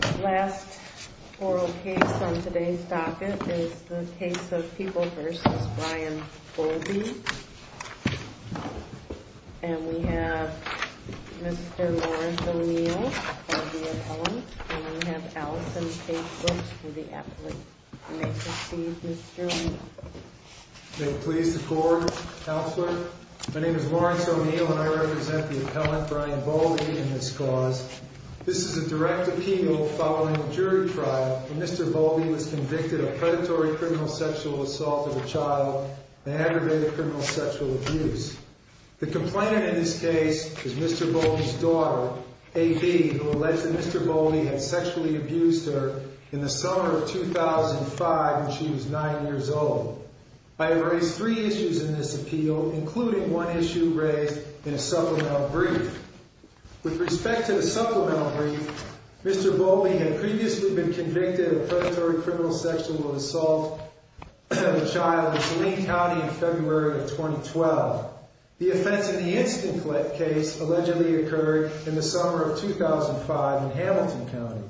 The last oral case on today's docket is the case of People v. Brian Bowlby, and we have Mr. Lawrence O'Neill as the appellant, and we have Allison Pagebrook as the appellant. You may proceed Mr. O'Neill. May it please the Court, Counselor. My name is Lawrence O'Neill and I represent the appellant Brian Bowlby in this cause. This is a direct appeal following a jury trial where Mr. Bowlby was convicted of predatory criminal sexual assault of a child and aggravated criminal sexual abuse. The complainant in this case is Mr. Bowlby's daughter, A.B., who alleged that Mr. Bowlby had sexually abused her in the summer of 2005 when she was nine years old. I have raised three issues in this appeal, including one issue raised in a supplemental brief. With respect to the supplemental brief, Mr. Bowlby had previously been convicted of predatory criminal sexual assault of a child in Saline County in February of 2012. The offense in the instant case allegedly occurred in the summer of 2005 in Hamilton County.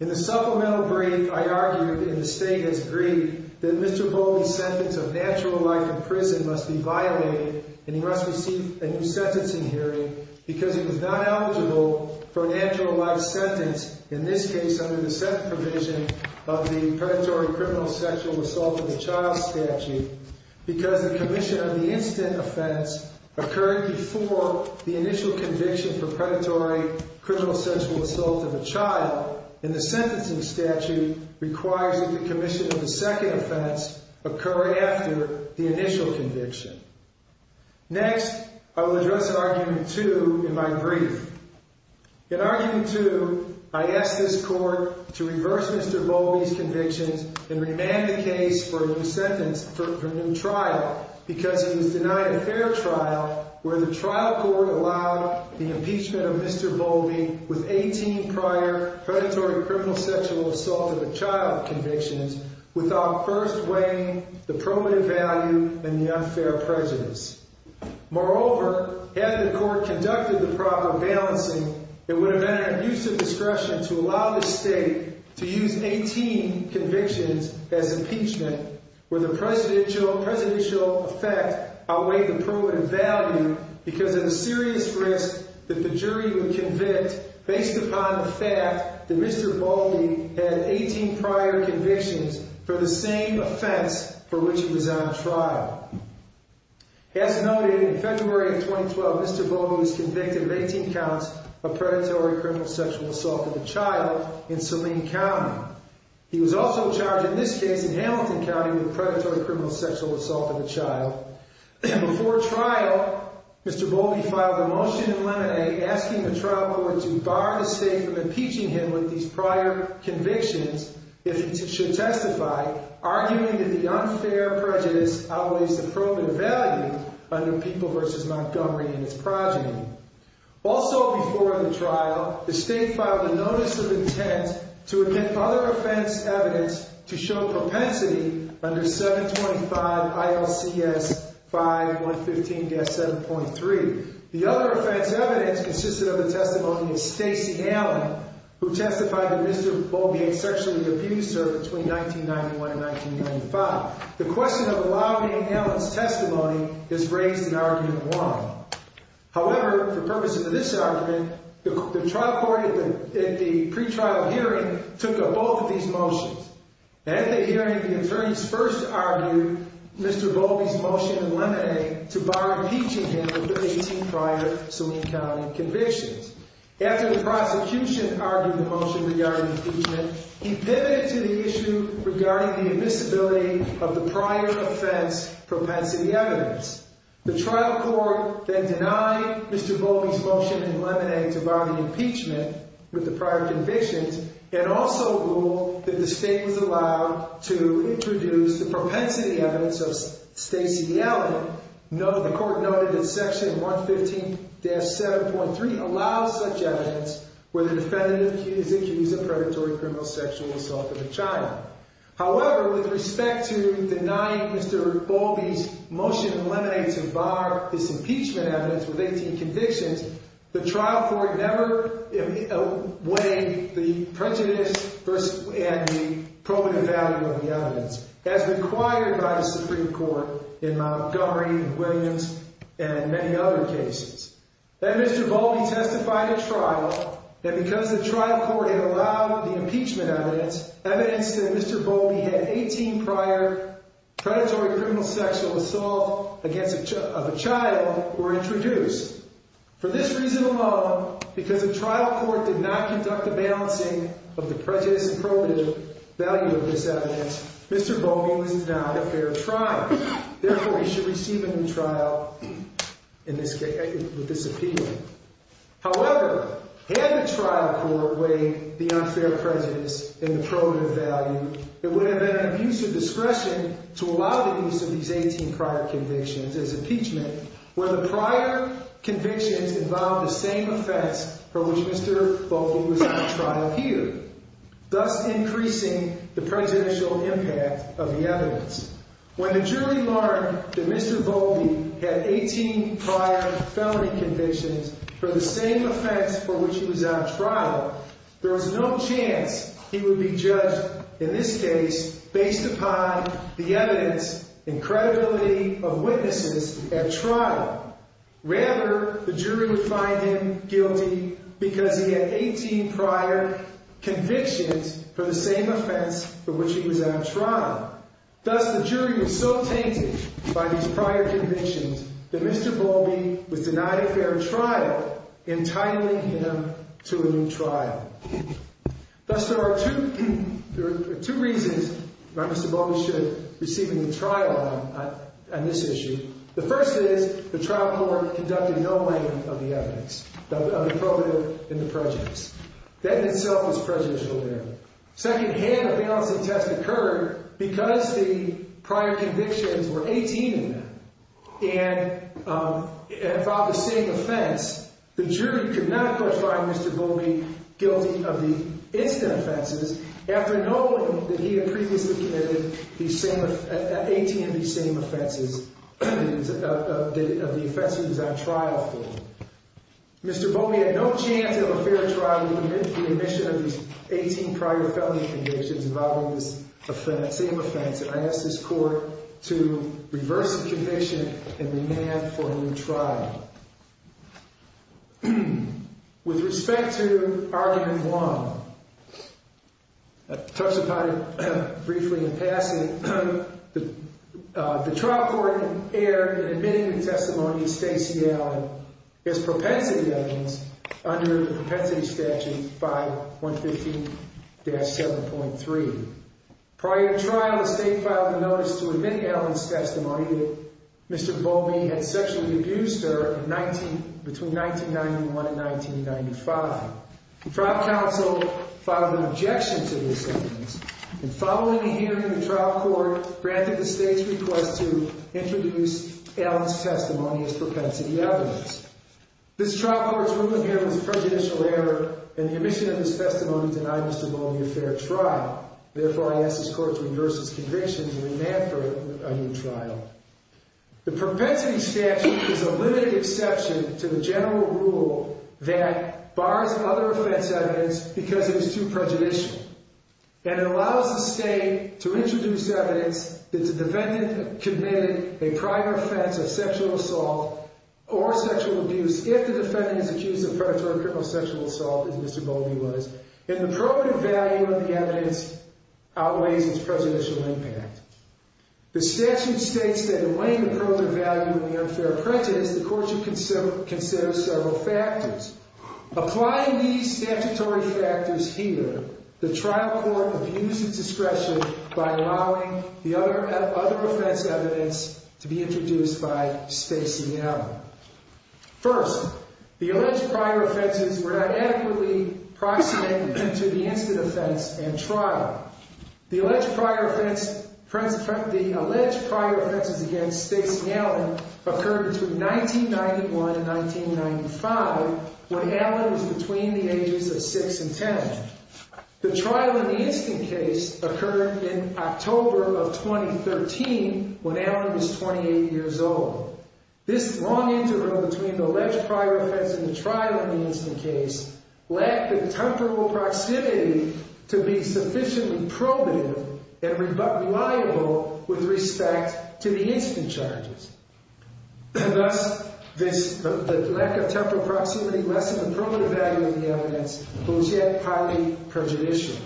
In the supplemental brief, I argued in the statement's brief that Mr. Bowlby's sentence of natural life in prison must be violated and he must receive a new sentencing hearing because he was not eligible for a natural life sentence in this case under the second provision of the predatory criminal sexual assault of a child statute because the commission of the instant offense occurred before the initial conviction for predatory criminal sexual assault of a child and the sentencing statute requires that the commission of the second offense occur after the initial conviction. Next, I will address Argument 2 in my brief. In Argument 2, I asked this court to reverse Mr. Bowlby's convictions and remand the case for a new trial because he was denied a fair trial where the trial court allowed the impeachment of Mr. Bowlby with 18 prior predatory criminal sexual assault of a child convictions without first weighing the probative value and the unfair prejudice. Moreover, had the court conducted the proper balancing, it would have been an abusive discretion to allow the state to use 18 convictions as impeachment where the presidential effect outweighed the probative value because of the serious risk that the jury would convict based upon the fact that Mr. Bowlby had 18 prior convictions for the same offense for which he was on trial. As noted, in February of 2012, Mr. Bowlby was convicted of 18 counts of predatory criminal sexual assault of a child in Saline County. He was also charged in this case in Hamilton County with predatory criminal sexual assault of a child. Before trial, Mr. Bowlby filed a motion in Lemonade asking the trial court to bar the state from impeaching him with these prior convictions if he should testify, arguing that the unfair prejudice outweighs the probative value under People v. Montgomery and its progeny. Also before the trial, the state filed a notice of intent to admit other offense evidence to show propensity under 725 ILCS 5115-7.3. The other offense evidence consisted of the testimony of Stacy Allen, who testified to Mr. Bowlby and sexually abused her between 1991 and 1995. The question of allowing Allen's testimony is raised in Argument 1. However, for purposes of this argument, the trial court in the pretrial hearing took up both of these motions. At the hearing, the attorneys first argued Mr. Bowlby's motion in Lemonade to bar impeaching him with the 18 prior Saline County convictions. After the prosecution argued the motion regarding impeachment, he pivoted to the issue regarding the admissibility of the prior offense propensity evidence. The trial court then denied Mr. Bowlby's motion in Lemonade to bar the impeachment with the prior convictions, and also ruled that the state was allowed to introduce the propensity evidence of Stacy Allen. The court noted that Section 115-7.3 allows such evidence where the defendant is accused of predatory criminal sexual assault with a child. However, with respect to denying Mr. Bowlby's motion in Lemonade to bar his impeachment evidence with 18 convictions, the trial court never weighed the prejudice and the probative value of the evidence, as required by the Supreme Court in Montgomery and Williams and many other cases. Then Mr. Bowlby testified at trial that because the trial court had allowed the impeachment evidence, evidence that Mr. Bowlby had 18 prior predatory criminal sexual assault of a child were introduced. For this reason alone, because the trial court did not conduct the balancing of the prejudice and probative value of this evidence, Mr. Bowlby was denied a fair trial. Therefore, he should receive a new trial with this appeal. However, had the trial court weighed the unfair prejudice and the probative value, it would have been an abuse of discretion to allow the use of these 18 prior convictions as impeachment, where the prior convictions involved the same offense for which Mr. Bowlby was at trial here, thus increasing the prejudicial impact of the evidence. When the jury learned that Mr. Bowlby had 18 prior felony convictions for the same offense for which he was at trial, there was no chance he would be judged in this case based upon the evidence and credibility of witnesses at trial. Rather, the jury would find him guilty because he had 18 prior convictions for the same offense for which he was at trial. Thus, the jury was so tainted by these prior convictions that Mr. Bowlby was denied a fair trial, entitling him to a new trial. Thus, there are two reasons why Mr. Bowlby should receive a new trial on this issue. The first is the trial court conducted no weighing of the evidence, of the probative and the prejudice. That in itself was prejudicial there. Second hand, a balancing test occurred because the prior convictions were 18 in them and involved the same offense. The jury could not, of course, find Mr. Bowlby guilty of the incident offenses after knowing that he had previously committed 18 of these same offenses of the offenses he was at trial for. Mr. Bowlby had no chance of a fair trial with the admission of these 18 prior felony convictions involving this same offense, and I ask this court to reverse the conviction and demand for a new trial. With respect to argument one, I'll touch upon it briefly in passing. The trial court erred in admitting the testimony of Stacy Allen as propensity evidence under the propensity statute 5.15-7.3. Prior to trial, the state filed a notice to admit Allen's testimony that Mr. Bowlby had sexually abused her between 1991 and 1995. The trial counsel filed an objection to this evidence, and following a hearing, the trial court granted the state's request to introduce Allen's testimony as propensity evidence. This trial court's ruling here was a prejudicial error, and the admission of this testimony denied Mr. Bowlby a fair trial. Therefore, I ask this court to reverse its convictions and demand for a new trial. The propensity statute is a limited exception to the general rule that bars other offense evidence because it is too prejudicial, and it allows the state to introduce evidence that the defendant committed a prior offense of sexual assault or sexual abuse if the defendant is accused of predatory criminal sexual assault, as Mr. Bowlby was, and the probative value of the evidence outweighs its prejudicial impact. The statute states that in weighing the probative value of the unfair prejudice, the court should consider several factors. Applying these statutory factors here, the trial court abused its discretion by allowing the other offense evidence to be introduced by Stacy Allen. First, the alleged prior offenses were not adequately approximated to the instant offense and trial. The alleged prior offenses against Stacy Allen occurred between 1991 and 1995, when Allen was between the ages of 6 and 10. The trial in the instant case occurred in October of 2013, when Allen was 28 years old. This long interim between the alleged prior offense and the trial in the instant case lacked the temporal proximity to be sufficiently probative and reliable with respect to the instant charges. Thus, the lack of temporal proximity lessened the probative value of the evidence, but was yet highly prejudicial.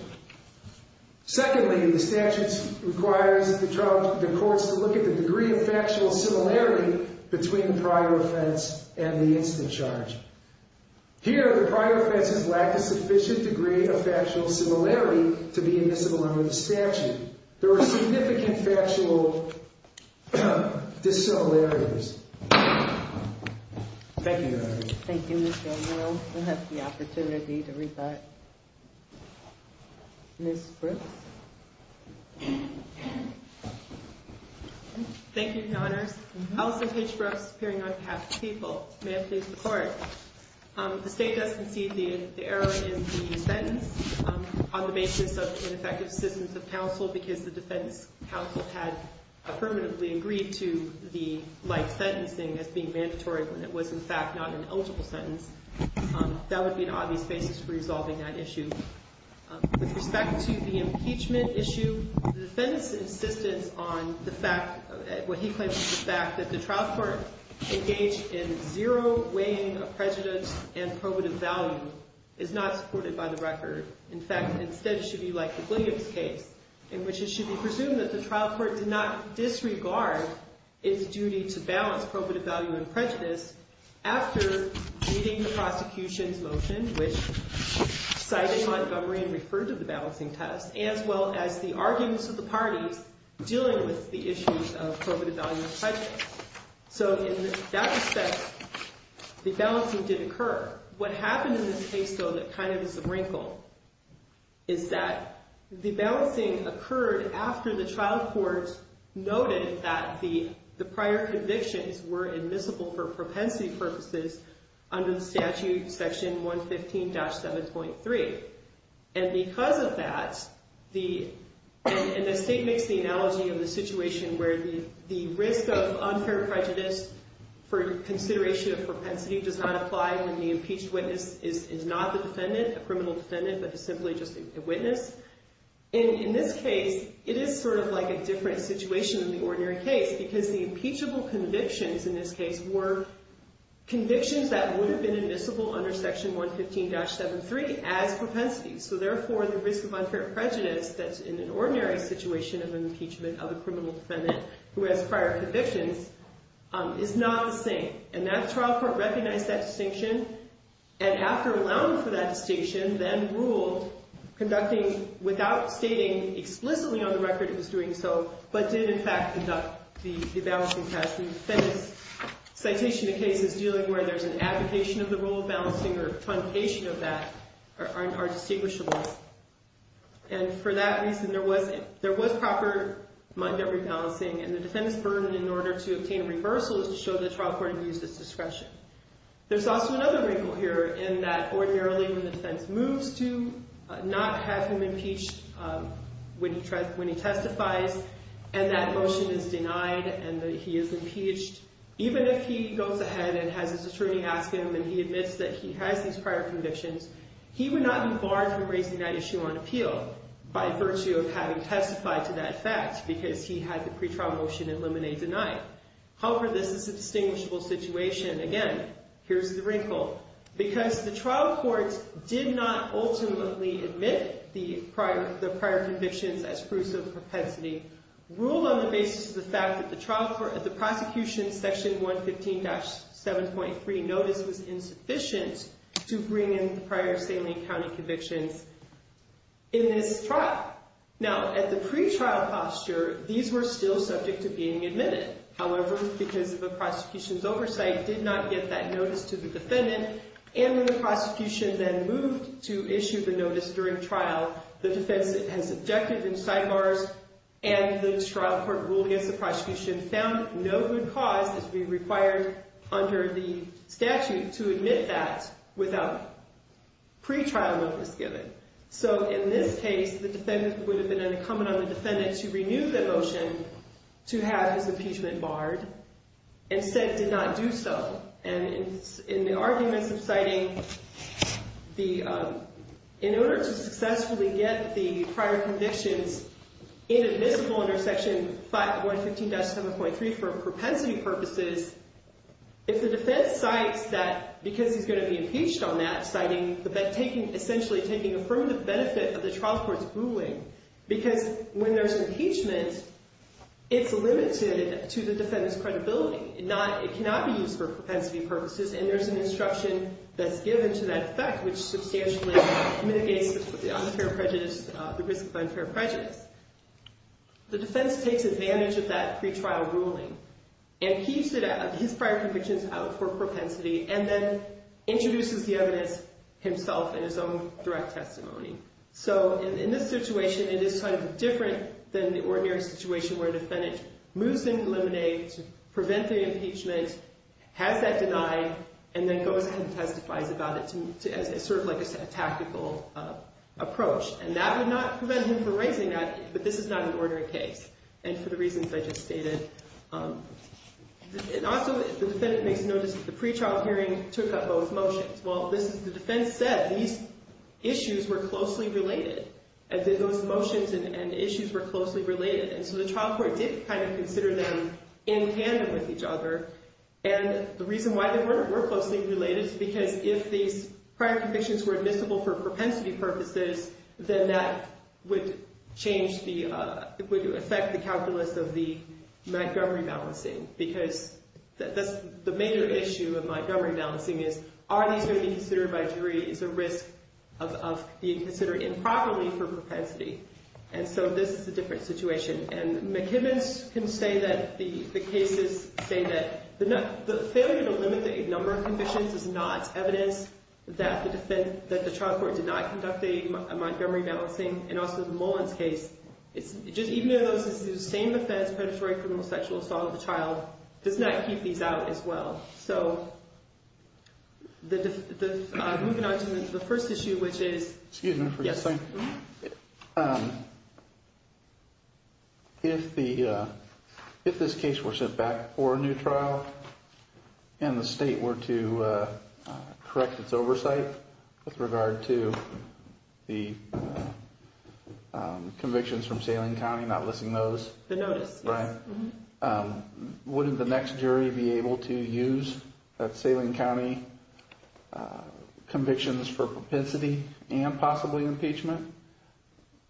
Secondly, the statute requires the courts to look at the degree of factual similarity between the prior offense and the instant charge. Here, the prior offenses lack a sufficient degree of factual similarity to be admissible under the statute. There were significant factual dissimilarities. Thank you, Your Honor. Thank you, Ms. Gamble. We'll have the opportunity to rebut. Ms. Brooks? Thank you, Your Honors. Alison H. Brooks, appearing on behalf of the people. May I please report? The State does concede the error in the sentence on the basis of ineffective assistance of counsel because the defense counsel had affirmatively agreed to the life sentencing as being mandatory when it was, in fact, not an eligible sentence. That would be an obvious basis for resolving that issue. With respect to the impeachment issue, the defendant's insistence on what he claims is the fact that the trial court engaged in zero weighing of prejudice and probative value is not supported by the record. In fact, instead, it should be like the Williams case, in which it should be presumed that the trial court did not disregard its duty to balance probative value and prejudice after reading the prosecution's motion, which cited Montgomery and referred to the balancing test, as well as the arguments of the parties dealing with the issues of probative value and prejudice. So in that respect, the balancing did occur. What happened in this case, though, that kind of is a wrinkle, is that the balancing occurred after the trial court noted that the prior convictions were admissible for propensity purposes under the statute, Section 115-7.3. And because of that, and the state makes the analogy of the situation where the risk of unfair prejudice for consideration of propensity does not apply when the impeached witness is not the defendant, a criminal defendant, but is simply just a witness. In this case, it is sort of like a different situation than the ordinary case, because the impeachable convictions in this case were convictions that would have been admissible under Section 115-7.3 as propensities. So therefore, the risk of unfair prejudice that's in an ordinary situation of an impeachment of a criminal defendant who has prior convictions is not the same. And that trial court recognized that distinction, and after allowing for that distinction, then ruled, conducting without stating explicitly on the record it was doing so, but did, in fact, conduct the balancing test. The defendant's citation of cases dealing where there's an abdication of the rule of balancing or truncation of that are distinguishable. And for that reason, there was proper mind at rebalancing, and the defendant's burden in order to obtain a reversal is to show the trial court abuses discretion. There's also another wrinkle here in that ordinarily when the defense moves to not have him impeached when he testifies, and that motion is denied and that he is impeached, even if he goes ahead and has his attorney ask him and he admits that he has these prior convictions, he would not be barred from raising that issue on appeal by virtue of having testified to that fact because he had the pretrial motion in limine denied. However, this is a distinguishable situation. Again, here's the wrinkle. Because the trial court did not ultimately admit the prior convictions as proofs of propensity, ruled on the basis of the fact that the prosecution's section 115-7.3 notice was insufficient to bring in prior Saline County convictions in this trial. Now, at the pretrial posture, these were still subject to being admitted. However, because of the prosecution's oversight, did not get that notice to the defendant, and when the prosecution then moved to issue the notice during trial, the defense has subjected and sidebars, and the trial court ruled against the prosecution found no good cause to be required under the statute to admit that without pretrial notice given. So in this case, the defendant would have been unaccompanied on the defendant to renew the motion to have his impeachment barred, and said did not do so. And in the arguments of citing, in order to successfully get the prior convictions inadmissible under section 115-7.3 for propensity purposes, if the defense cites that because he's going to be impeached on that, citing essentially taking affirmative benefit of the trial court's ruling, because when there's impeachment, it's limited to the defendant's credibility. It cannot be used for propensity purposes, and there's an instruction that's given to that effect, which substantially mitigates the risk of unfair prejudice. The defense takes advantage of that pretrial ruling, and keeps his prior convictions out for propensity, and then introduces the evidence himself in his own direct testimony. So in this situation, it is kind of different than the ordinary situation where a defendant moves in to eliminate, to prevent the impeachment, has that denied, and then goes ahead and testifies about it as sort of like a tactical approach. And that would not prevent him from raising that, but this is not an ordinary case, and for the reasons I just stated. And also, the defendant makes a notice that the pretrial hearing took up both motions. Well, this is, the defense said these issues were closely related, and that those motions and issues were closely related. And so the trial court did kind of consider them in tandem with each other. And the reason why they were closely related is because if these prior convictions were admissible for propensity purposes, then that would change the, would affect the calculus of the Montgomery balancing. Because the major issue of Montgomery balancing is, are these going to be considered by jury, is a risk of being considered improperly for propensity. And so this is a different situation. And McKibbins can say that the cases say that the failure to limit the number of convictions is not evidence that the trial court did not conduct a Montgomery balancing. And also the Mullins case, even though it's the same offense, predatory criminal sexual assault of the child, does not keep these out as well. So, moving on to the first issue, which is... Excuse me for just a second. Yes. If this case were sent back for a new trial, and the state were to correct its oversight with regard to the convictions from Salem County, not listing those... The notice, yes. Right? Wouldn't the next jury be able to use that Salem County convictions for propensity and possibly impeachment,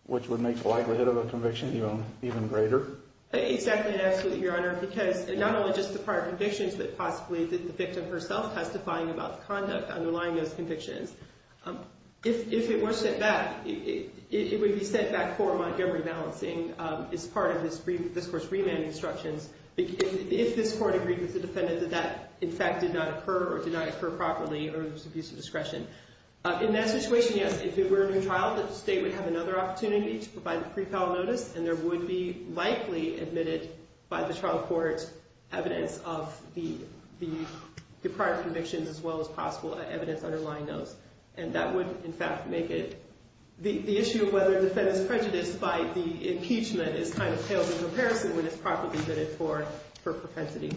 which would make the likelihood of a conviction even greater? Exactly and absolutely, Your Honor, because not only just the prior convictions, but possibly the victim herself testifying about the conduct underlying those convictions. If it were sent back, it would be sent back for Montgomery balancing as part of this court's remand instructions. If this court agreed with the defendant that that, in fact, did not occur or did not occur properly or there was abuse of discretion. In that situation, yes. If it were a new trial, the state would have another opportunity to provide a pre-trial notice, and there would be likely admitted by the trial court evidence of the prior convictions as well as possible evidence underlying those. And that would, in fact, make it... The issue of whether the defendant is prejudiced by the impeachment is kind of hailed in comparison when it's properly vetted for propensity.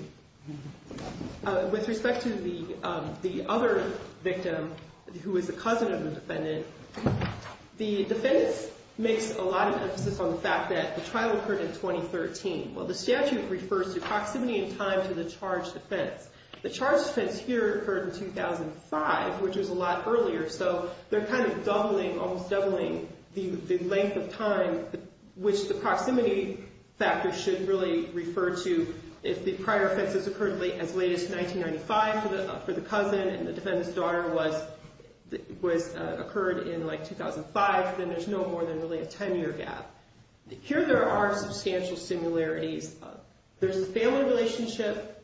With respect to the other victim, who is the cousin of the defendant, the defense makes a lot of emphasis on the fact that the trial occurred in 2013. While the statute refers to proximity in time to the charge defense, the charge defense here occurred in 2005, which was a lot earlier. So they're kind of doubling, almost doubling the length of time, which the proximity factor should really refer to. If the prior offenses occurred as late as 1995 for the cousin and the defendant's daughter was... Occurred in, like, 2005, then there's no more than really a 10-year gap. Here there are substantial similarities. There's the family relationship,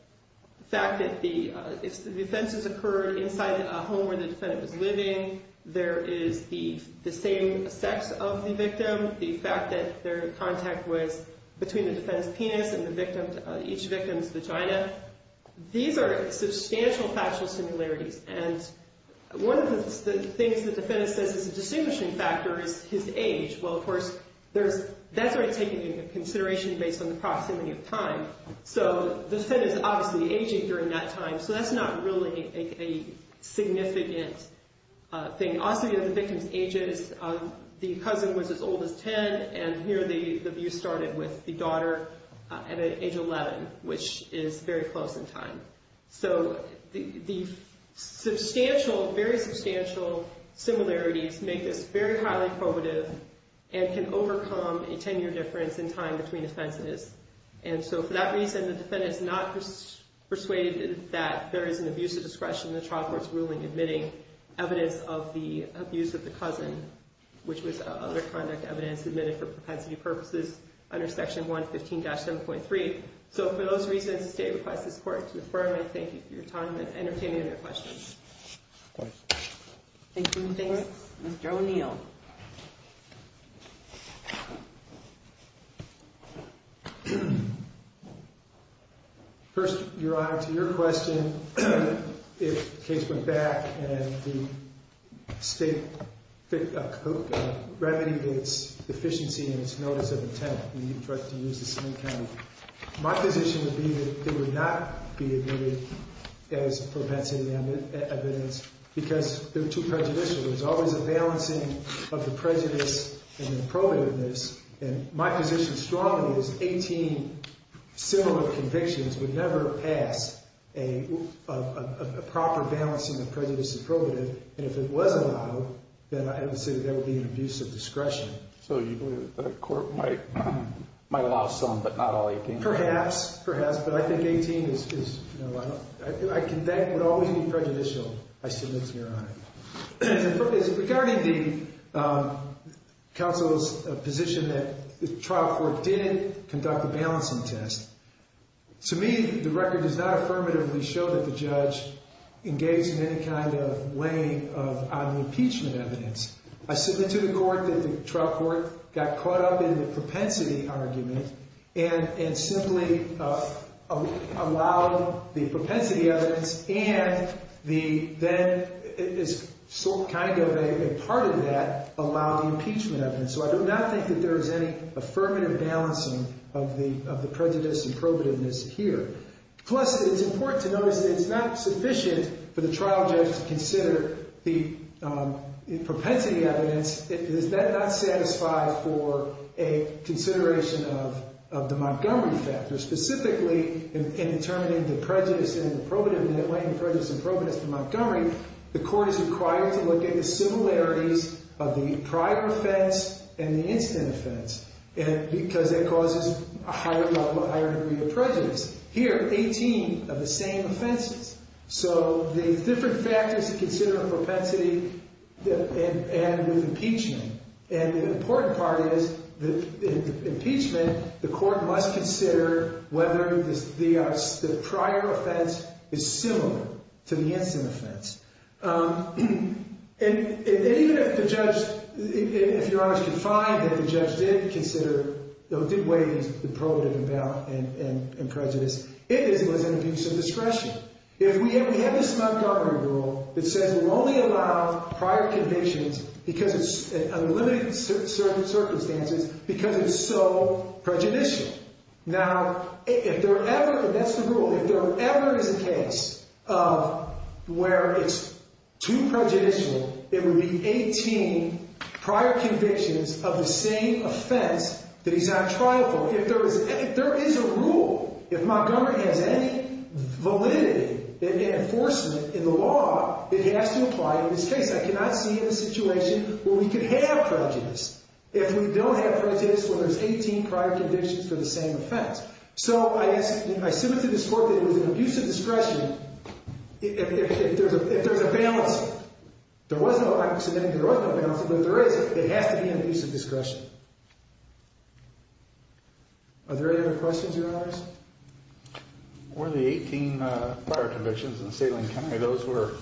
the fact that the offenses occurred inside a home where the defendant was living. There is the same sex of the victim, the fact that their contact was between the defendant's penis and the victim's... Each victim's vagina. These are substantial factual similarities. And one of the things the defendant says is a distinguishing factor is his age. Well, of course, that's already taken into consideration based on the proximity of time. So the defendant is obviously aging during that time, so that's not really a significant thing. Also, you know, the victim's age is... The cousin was as old as 10, and here the abuse started with the daughter at age 11, which is very close in time. So the substantial, very substantial similarities make this very highly probative and can overcome a 10-year difference in time between offenses. And so for that reason, the defendant is not persuaded that there is an abuse of discretion in the trial court's ruling admitting evidence of the abuse of the cousin, which was other conduct evidence admitted for propensity purposes under Section 115-7.3. So for those reasons, the state requests this court to affirm and thank you for your time and entertaining other questions. Thank you. Thank you. Mr. O'Neill. First, Your Honor, to your question, if the case went back and the state remedied its deficiency in its notice of intent, my position would be that it would not be admitted as propensity evidence because they're too prejudicial. There's always a balancing of the prejudice and the probativeness. And my position strongly is 18 similar convictions would never pass a proper balancing of prejudice and probativeness. And if it was allowed, then I would say that there would be an abuse of discretion. So you believe that the court might allow some, but not all 18? Perhaps. Perhaps. But I think 18 is, you know, I think that would always be prejudicial. I submit to your honor. Regarding the counsel's position that the trial court didn't conduct a balancing test, to me, the record does not affirmatively show that the judge engaged in any kind of weighing on the impeachment evidence. I submit to the court that the trial court got caught up in the propensity argument and simply allowed the propensity evidence and the then, it is sort of kind of a part of that, allowed the impeachment evidence. So I do not think that there is any affirmative balancing of the prejudice and probativeness here. Plus, it's important to notice that it's not sufficient for the trial judge to consider the propensity evidence. Does that not satisfy for a consideration of the Montgomery factor? Specifically, in determining the prejudice and the probativeness, weighing the prejudice and probativeness for Montgomery, the court is required to look at the similarities of the prior offense and the incident offense because it causes a higher level, a higher degree of prejudice. Here, 18 of the same offenses. So the different factors to consider are propensity and with impeachment. And the important part is, in impeachment, the court must consider whether the prior offense is similar to the incident offense. And even if the judge, if you're honest, can find that the judge did consider, did weigh the probativeness and prejudice, it was an abuse of discretion. If we have this Montgomery rule that says we only allow prior convictions because it's unlimited certain circumstances because it's so prejudicial. Now, if there ever, and that's the rule, if there ever is a case of where it's too prejudicial, it would be 18 prior convictions of the same offense that he's on trial for. If there is a rule, if Montgomery has any validity and enforcement in the law, it has to apply in this case. I cannot see a situation where we could have prejudice. If we don't have prejudice, well, there's 18 prior convictions for the same offense. So I submit to this court that it was an abuse of discretion. If there's a balance, there was no accident, there was no balance, but if there is, it has to be an abuse of discretion. Are there any other questions, your honors? Were the 18 prior convictions in Salem County, those were,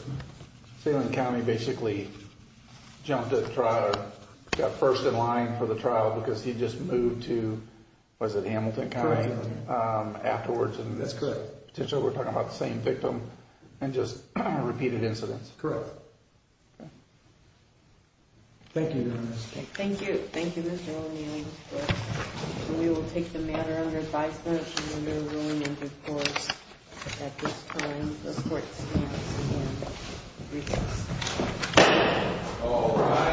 Salem County basically jumped at trial, got first in line for the trial because he just moved to, was it Hamilton County? Correct. Afterwards, and potentially we're talking about the same victim and just repeated incidents. Correct. Okay. Thank you, your honors. Thank you. Thank you, Mr. O'Neill. We will take the matter under advisement. All rise.